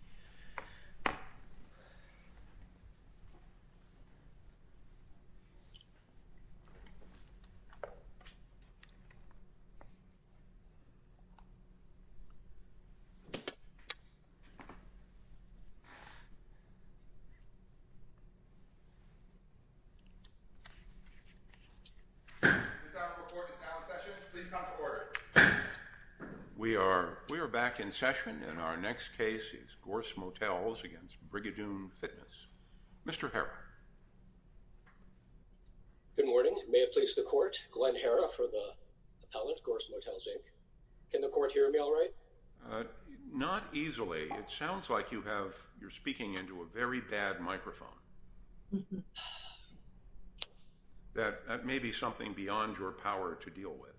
This item of report is now in session. Please come to order. We are we are back in session and our next case is Gorss Motels against Brigadoon Fitness. Mr. Herra. Good morning. May it please the court, Glenn Herra for the appellate, Gorss Motels, Inc. Can the court hear me all right? Not easily. It sounds like you have you're speaking into a very bad microphone. That may be something beyond your power to deal with.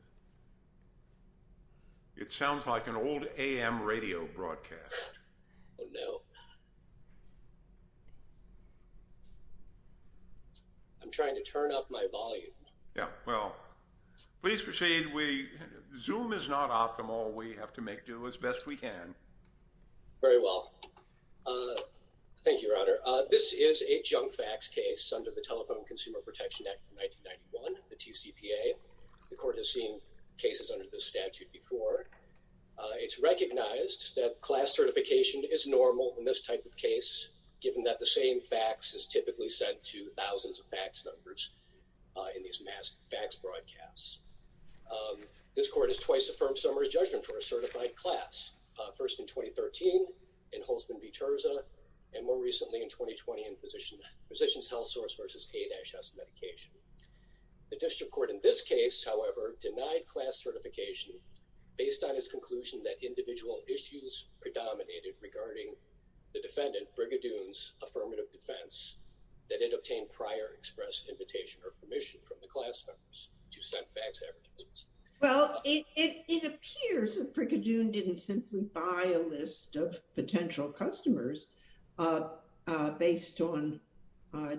It sounds like an old AM radio broadcast. Oh no. I'm trying to turn up my volume. Yeah. Well, please proceed. Zoom is not optimal. We have to make do as best we can. Very well. Thank you, Your Honor. This is a junk facts case under the Telephone Consumer Protection Act 1991, the TCPA. The court has seen cases under this statute before. It's recognized that class certification is normal in this type of case given that the same facts is typically sent to thousands of fax numbers in these mass fax broadcasts. This court has twice affirmed summary judgment for a certified class. First in 2013 in Holzman v. Terza and more recently in 2020 in Physicians Health Source v. A-S Medication. The district court in this case, however, denied class certification based on its conclusion that individual issues predominated regarding the defendant Brigadoon's affirmative defense that it obtained prior express invitation or permission from the class members to send fax evidence. Well, it appears that Brigadoon didn't simply buy a list of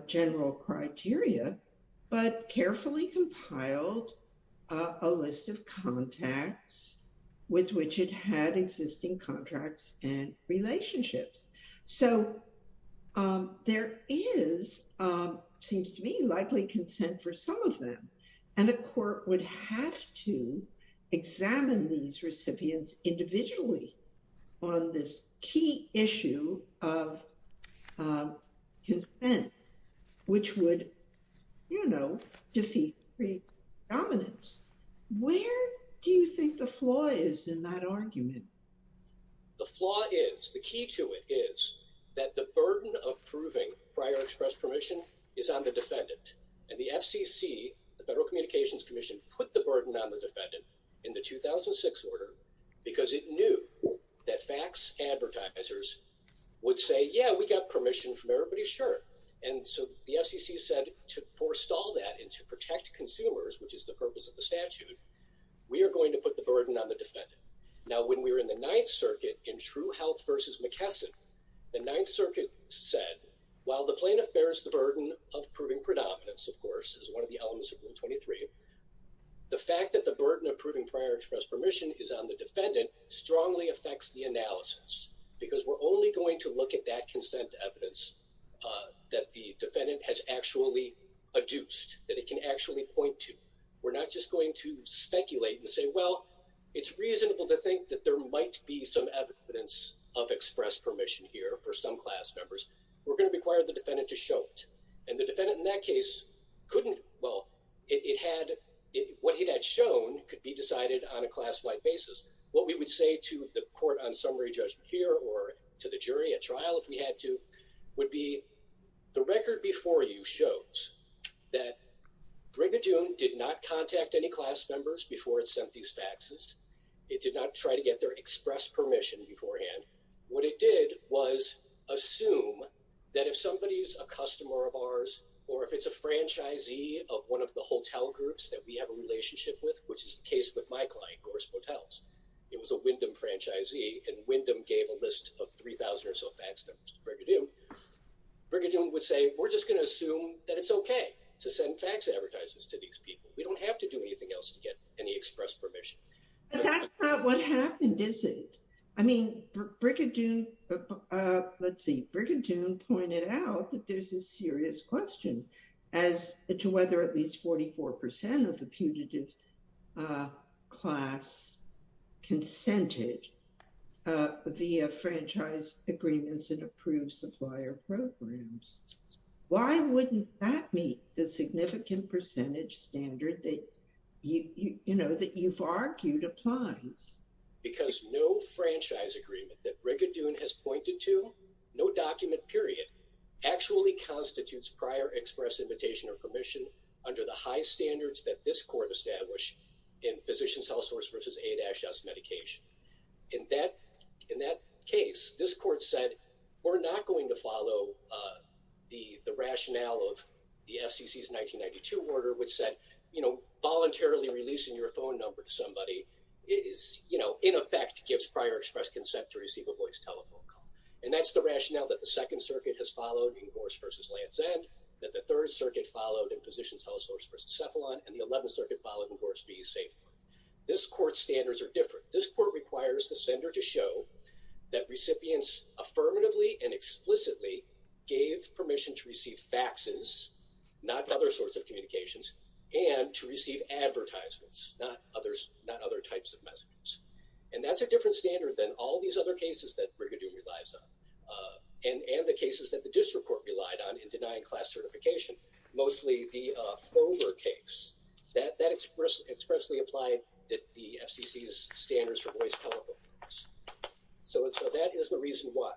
general criteria but carefully compiled a list of contacts with which it had existing contracts and relationships. So there is, seems to me, likely consent for some of them and a court would have to examine these recipients individually on this key issue of consent which would, you know, defeat predominance. Where do you think the flaw is in that argument? The flaw is, the key to it is, that the burden of proving prior express permission is on the defendant and the FCC, the Federal Communications Commission, put the burden on the defendant in the 2006 order because it knew that fax advertisers would say, yeah, we got permission from everybody, sure, and so the FCC said to forestall that and to protect consumers, which is the purpose of the statute, we are going to put the burden on the defendant. Now when we were in the Ninth Circuit in True Health v. McKesson, the Ninth Circuit said, while the plaintiff bears the burden of proving predominance, of course, is one of the elements of Rule 23, the fact that the defendant strongly affects the analysis because we're only going to look at that consent evidence that the defendant has actually adduced, that it can actually point to. We're not just going to speculate and say, well, it's reasonable to think that there might be some evidence of express permission here for some class members. We're going to require the defendant to show it and the defendant in that case couldn't, well, it had, what he had shown could be decided on a class-wide basis. What we would say to the court on summary judgment here or to the jury at trial if we had to would be, the record before you shows that Brigadoon did not contact any class members before it sent these faxes. It did not try to get their express permission beforehand. What it did was assume that if somebody's a customer of ours or if it's a franchisee of one of the hotel groups that we have a relationship with, which is the case with my client, Gorse Hotels, it was a Wyndham franchisee and Wyndham gave a list of 3,000 or so fax numbers to Brigadoon. Brigadoon would say, we're just going to assume that it's okay to send fax advertises to these people. We don't have to do anything else to get any express permission. But that's not what happened, is it? I mean, Brigadoon, let's see, Brigadoon pointed out that there's a class consented via franchise agreements and approved supplier programs. Why wouldn't that meet the significant percentage standard that, you know, that you've argued applies? Because no franchise agreement that Brigadoon has pointed to, no document, period, actually constitutes prior express invitation or positions health source versus A-S medication. In that case, this court said, we're not going to follow the rationale of the FCC's 1992 order which said, you know, voluntarily releasing your phone number to somebody is, you know, in effect gives prior express consent to receive a voice telephone call. And that's the rationale that the Second Circuit has followed in Gorse versus Land's End, that the Third Circuit followed in positions health source versus Cephalon, and the Eleventh Circuit followed in positions health source versus Cephalon. This court's standards are different. This court requires the sender to show that recipients affirmatively and explicitly gave permission to receive faxes, not other sorts of communications, and to receive advertisements, not others, not other types of messages. And that's a different standard than all these other cases that Brigadoon relies on, and the cases that the District Court relied on in denying class certification. Mostly the FOMER case, that expressly implied that the FCC's standards for voice telephone. So that is the reason why.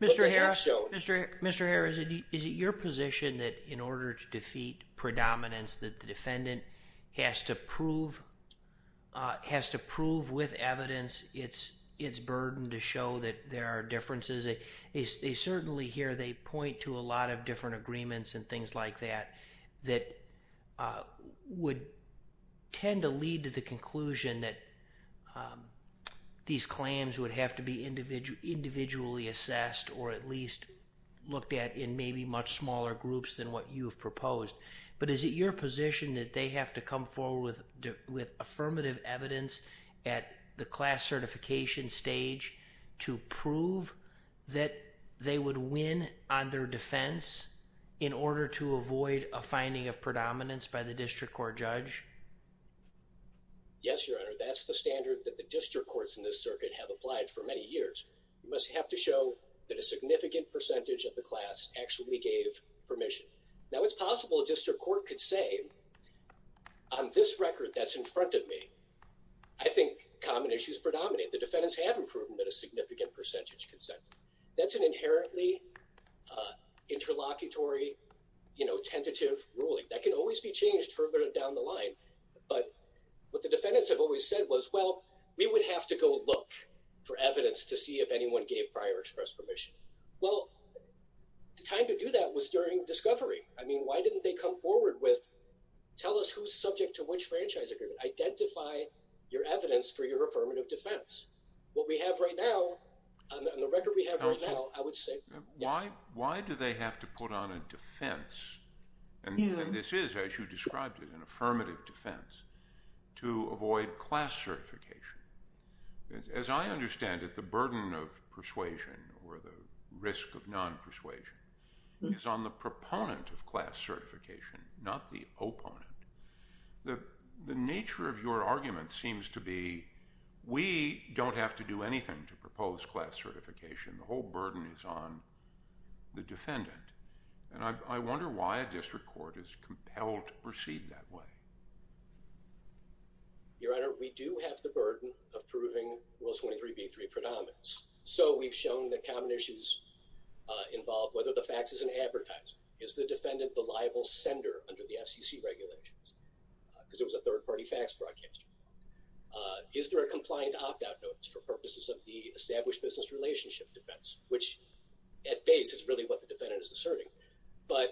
Mr. Herr, Mr. Herr, is it your position that in order to defeat predominance that the defendant has to prove, has to prove with evidence it's it's burden to show that there are differences? They certainly here, they point to a lot of different agreements and things like that, that would tend to the conclusion that these claims would have to be individually assessed or at least looked at in maybe much smaller groups than what you've proposed. But is it your position that they have to come forward with affirmative evidence at the class certification stage to prove that they would win on their defense in order to avoid a finding of predominance by the Yes, Your Honor. That's the standard that the District Courts in this circuit have applied for many years. You must have to show that a significant percentage of the class actually gave permission. Now it's possible a District Court could say on this record that's in front of me, I think common issues predominate. The defendants haven't proven that a significant percentage consented. That's an inherently interlocutory, you know, tentative ruling. That can always be the defendants have always said was, well, we would have to go look for evidence to see if anyone gave prior express permission. Well, the time to do that was during discovery. I mean, why didn't they come forward with, tell us who's subject to which franchise agreement? Identify your evidence for your affirmative defense. What we have right now, on the record we have right now, I would say. Why do they have to put on a defense, and this is as you said, an affirmative defense, to avoid class certification? As I understand it, the burden of persuasion, or the risk of non-persuasion, is on the proponent of class certification, not the opponent. The nature of your argument seems to be, we don't have to do anything to propose class certification. The whole burden is on the defendant. And I wonder why a District Court is compelled to proceed that way. Your Honor, we do have the burden of proving Will 23b3 predominance. So we've shown that common issues involve whether the fax is an advertiser. Is the defendant the liable sender under the FCC regulations? Because it was a third-party fax broadcaster. Is there a compliant opt-out notice for purposes of the established business relationship defense? Which, at base, is really what the defendant is asserting. But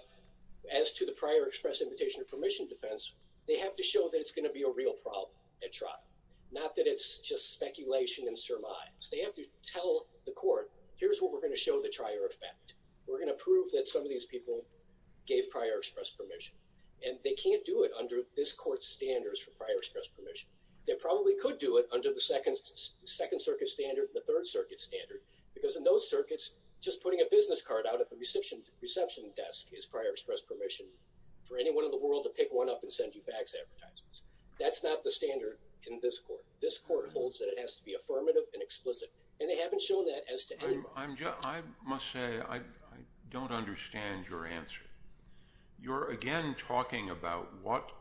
as to the prior express invitation or permission defense, they have to show that it's going to be a real problem at trial. Not that it's just speculation and surmise. They have to tell the court, here's what we're going to show the trier effect. We're gonna prove that some of these people gave prior express permission. And they can't do it under this Court's standards for prior express permission. They probably could do it under the Second Circuit standard, the Third Circuit standard, because in those circuits, just putting a business card out at the reception desk is prior express permission for anyone in the world to pick one up and send you fax advertisements. That's not the standard in this Court. This Court holds that it has to be affirmative and explicit. And they haven't shown that as to anyone. I must say, I don't understand your answer. You're again talking about what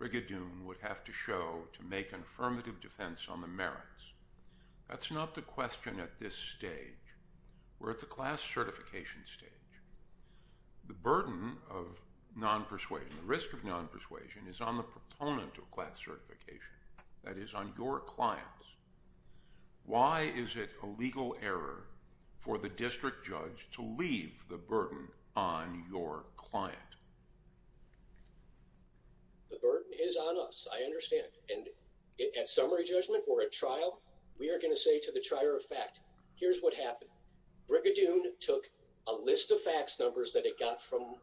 Brigadoon would have to show to make an affirmative defense on the merits. That's not the question at this stage. We're at the class certification stage. The burden of non-persuasion, the risk of non-persuasion is on the proponent of class certification. That is on your clients. Why is it a legal error for the district judge to leave the burden on your client? The burden is on us. I understand. And at summary judgment or at trial, we are not eligible for that defense. That's what happened. Brigadoon took a list of fax numbers that it got from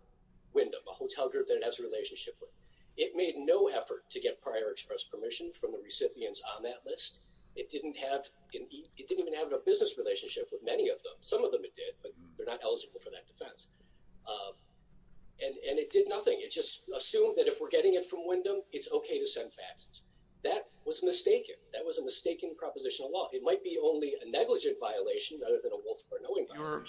Wyndham, a hotel group that it has a relationship with. It made no effort to get prior express permission from the recipients on that list. It didn't have, it didn't even have a business relationship with many of them. Some of them it did, but they're not eligible for that defense. And it did nothing. It just assumed that if we're getting it from Wyndham, it's okay to send faxes. That was mistaken. That was a mistaken proposition of law. It might be only a negligent violation rather than a waltz of our knowing.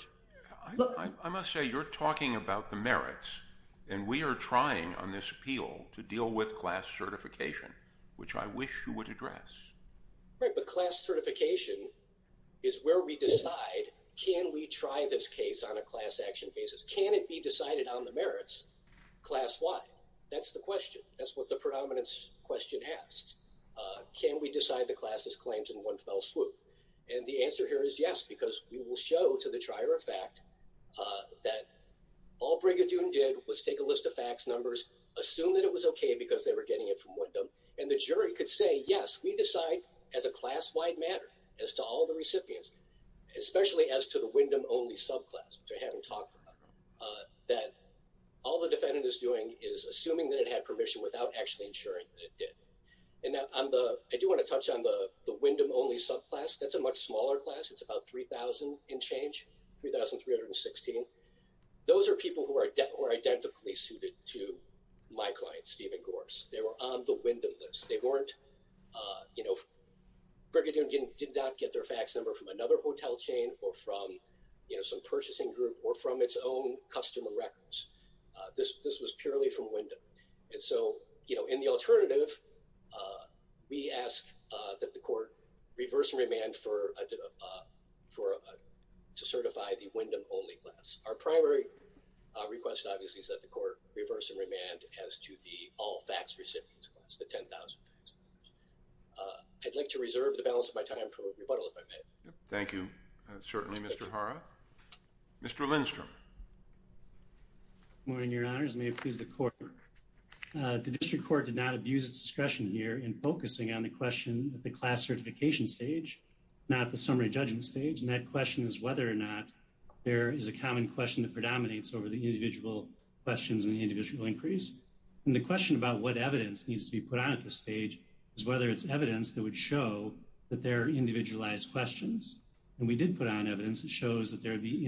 I must say you're talking about the merits and we are trying on this appeal to deal with class certification, which I wish you would address. Right, but class certification is where we decide can we try this case on a class action basis. Can it be decided on the merits class-wide? That's the question. That's what the predominance question asks. Can we decide the class's claims in one fell swoop? And the answer here is yes, because we will show to the trier of fact that all Brigadoon did was take a list of fax numbers, assume that it was okay because they were getting it from Wyndham, and the jury could say yes, we decide as a class-wide matter, as to all the recipients, especially as to the Wyndham only subclass, which I haven't talked about, that all the defendant is doing is assuming that it had permission without actually ensuring that it did. And that I do want to touch on the Wyndham only subclass. That's a much smaller class. It's about 3,000 and change, 3,316. Those are people who are identically suited to my client, Steven Gorse. They were on the Wyndham list. They weren't, you know, Brigadoon did not get their fax number from another hotel chain or from, you know, some purchasing group or from its own customer records. This was purely from Wyndham. And so, you know, in the alternative, we ask that the court reverse and remand to certify the Wyndham only class. Our primary request, obviously, is that the court reverse and remand as to the all fax recipients class, the 10,000. I'd like to reserve the balance of my time for rebuttal, if I may. Thank you, certainly, Mr. Hara. Mr. Lindstrom. Good morning, Your Honors. May it please the court. The district court did not abuse its discretion here in focusing on the question at the class certification stage, not the summary judgment stage. And that question is whether or not there is a common question that predominates over the individual questions and the individual increase. And the question about what evidence needs to be put on at this stage is whether it's evidence that would show that there are individualized questions. And we did put on evidence that shows that there would be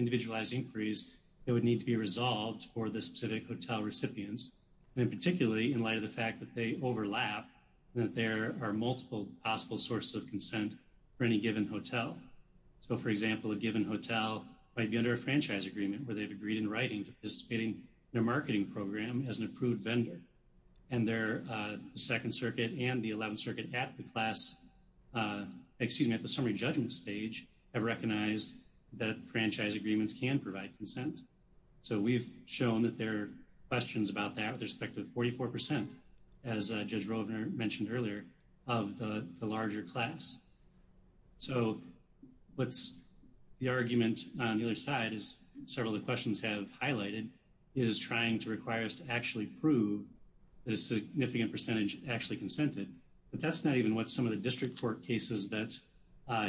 it would need to be resolved for the specific hotel recipients, and particularly in light of the fact that they overlap, that there are multiple possible sources of consent for any given hotel. So, for example, a given hotel might be under a franchise agreement where they've agreed in writing to participating in a marketing program as an approved vendor. And their Second Circuit and the 11th Circuit at the class, excuse me, at the summary judgment stage, have recognized that franchise agreements can provide consent. So we've shown that there are questions about that with respect to 44%, as Judge Rovner mentioned earlier, of the larger class. So what's the argument on the other side is several of the questions have highlighted is trying to require us to actually prove the significant percentage actually consented. But that's not even what some of the district court cases that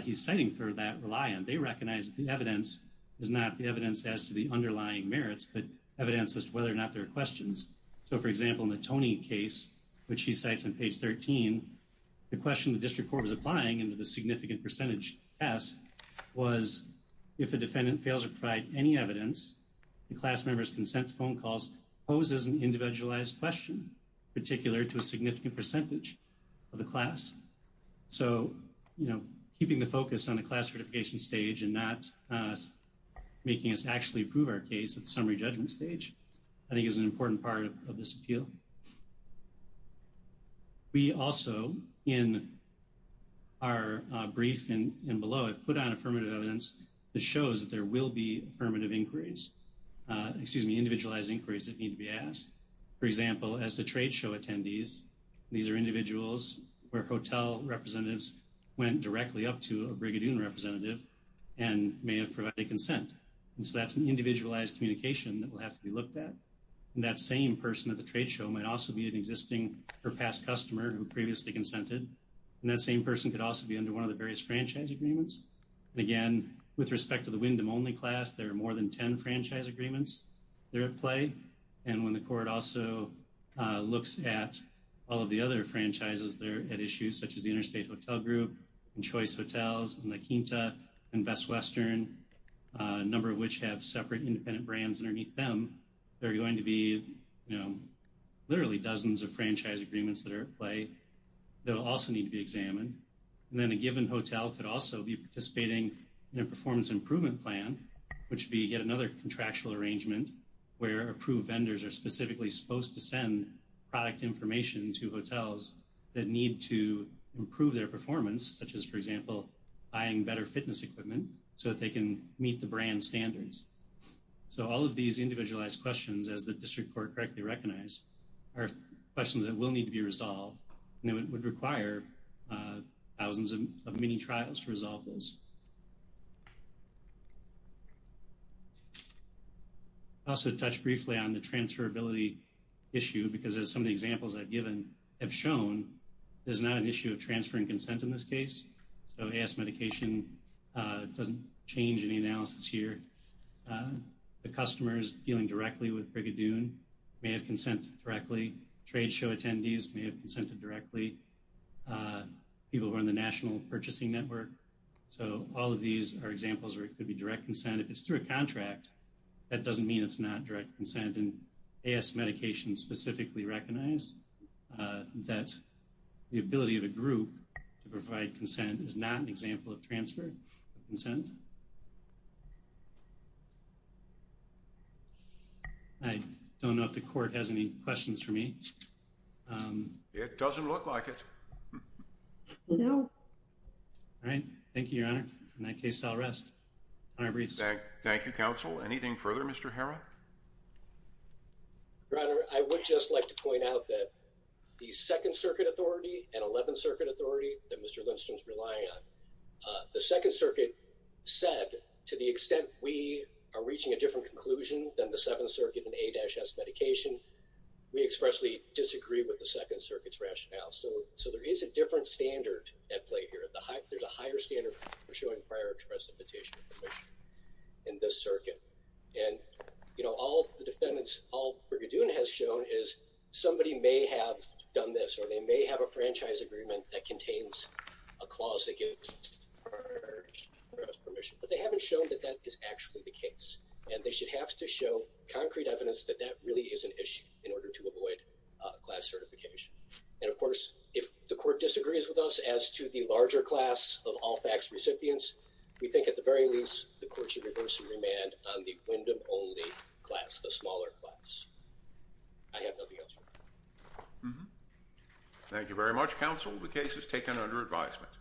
he's citing for that rely on. They recognize the evidence is not the evidence as to the underlying merits, but evidence as to whether or not there are questions. So for example, in the Tony case, which he cites on page 13, the question the district court was applying into the significant percentage test was if a defendant fails to provide any evidence, the class member's consent phone calls poses an individualized question, particular to a significant percentage of the class. So, you know, keeping the focus on the class certification stage and not making us actually prove our case at the summary judgment stage, I think is an important part of this appeal. We also, in our brief and below, have put on affirmative evidence that shows that there will be affirmative inquiries, excuse me, individualized inquiries that need to be asked. For example, in the case of the Windom Only class, there are individuals where hotel representatives went directly up to a Brigadoon representative and may have provided consent. And so that's an individualized communication that will have to be looked at. And that same person at the trade show might also be an existing or past customer who previously consented. And that same person could also be under one of the various franchise agreements. And again, with respect to the Windom Only class, there are more than 10 franchise agreements that are at play. And when the court also looks at all of the other franchises that are at issue, such as the Interstate Hotel Group, and Choice Hotels, and La Quinta, and Best Western, a number of which have separate independent brands underneath them, there are going to be, you know, literally dozens of franchise agreements that are at play that will also need to be examined. And then a given hotel could also be participating in a performance improvement plan, which be yet another contractual arrangement where approved vendors are specifically supposed to send product information to hotels that need to improve their performance, such as, for example, buying better fitness equipment so that they can meet the brand standards. So all of these individualized questions, as the District Court correctly recognized, are questions that will need to be resolved. And it would require thousands of mini trials to resolve those. I'll also touch briefly on the transferability issue, because as some of the examples I've given have shown, there's not an issue of transferring consent in this case. So AS Medication doesn't change any analysis here. The customers dealing directly with Brigadoon may have consent directly. Tradeshow attendees may have consented directly. People who are on the National Purchasing Network. So all that doesn't mean it's not direct consent, and AS Medication specifically recognized that the ability of a group to provide consent is not an example of transfer of consent. I don't know if the Court has any questions for me. It doesn't look like it. All right. Thank you, Your Honor. In that case, I'll rest. I rest. Thank you, Counsel. Anything further, Mr. Harrah? Your Honor, I would just like to point out that the Second Circuit Authority and Eleventh Circuit Authority that Mr. Lindstrom's relying on, the Second Circuit said, to the extent we are reaching a different conclusion than the Seventh Circuit and A-S Medication, we expressly disagree with the Second Circuit's rationale. So there is a different standard at play here. There's a higher standard for showing prior to recipitation of permission in this circuit. And, you know, all the defendants, all Brigadoon has shown is somebody may have done this, or they may have a franchise agreement that contains a clause that gives prior recipient permission, but they haven't shown that that is actually the case. And they should have to show concrete evidence that that really is an issue in order to avoid class certification. And of course, if the court disagrees with us as to the larger class of all fax recipients, we think at the very least, the court should reverse and remand on the Wyndham only class, the smaller class. I have nothing else. Thank you very much, Counsel. The case is taken under advisement.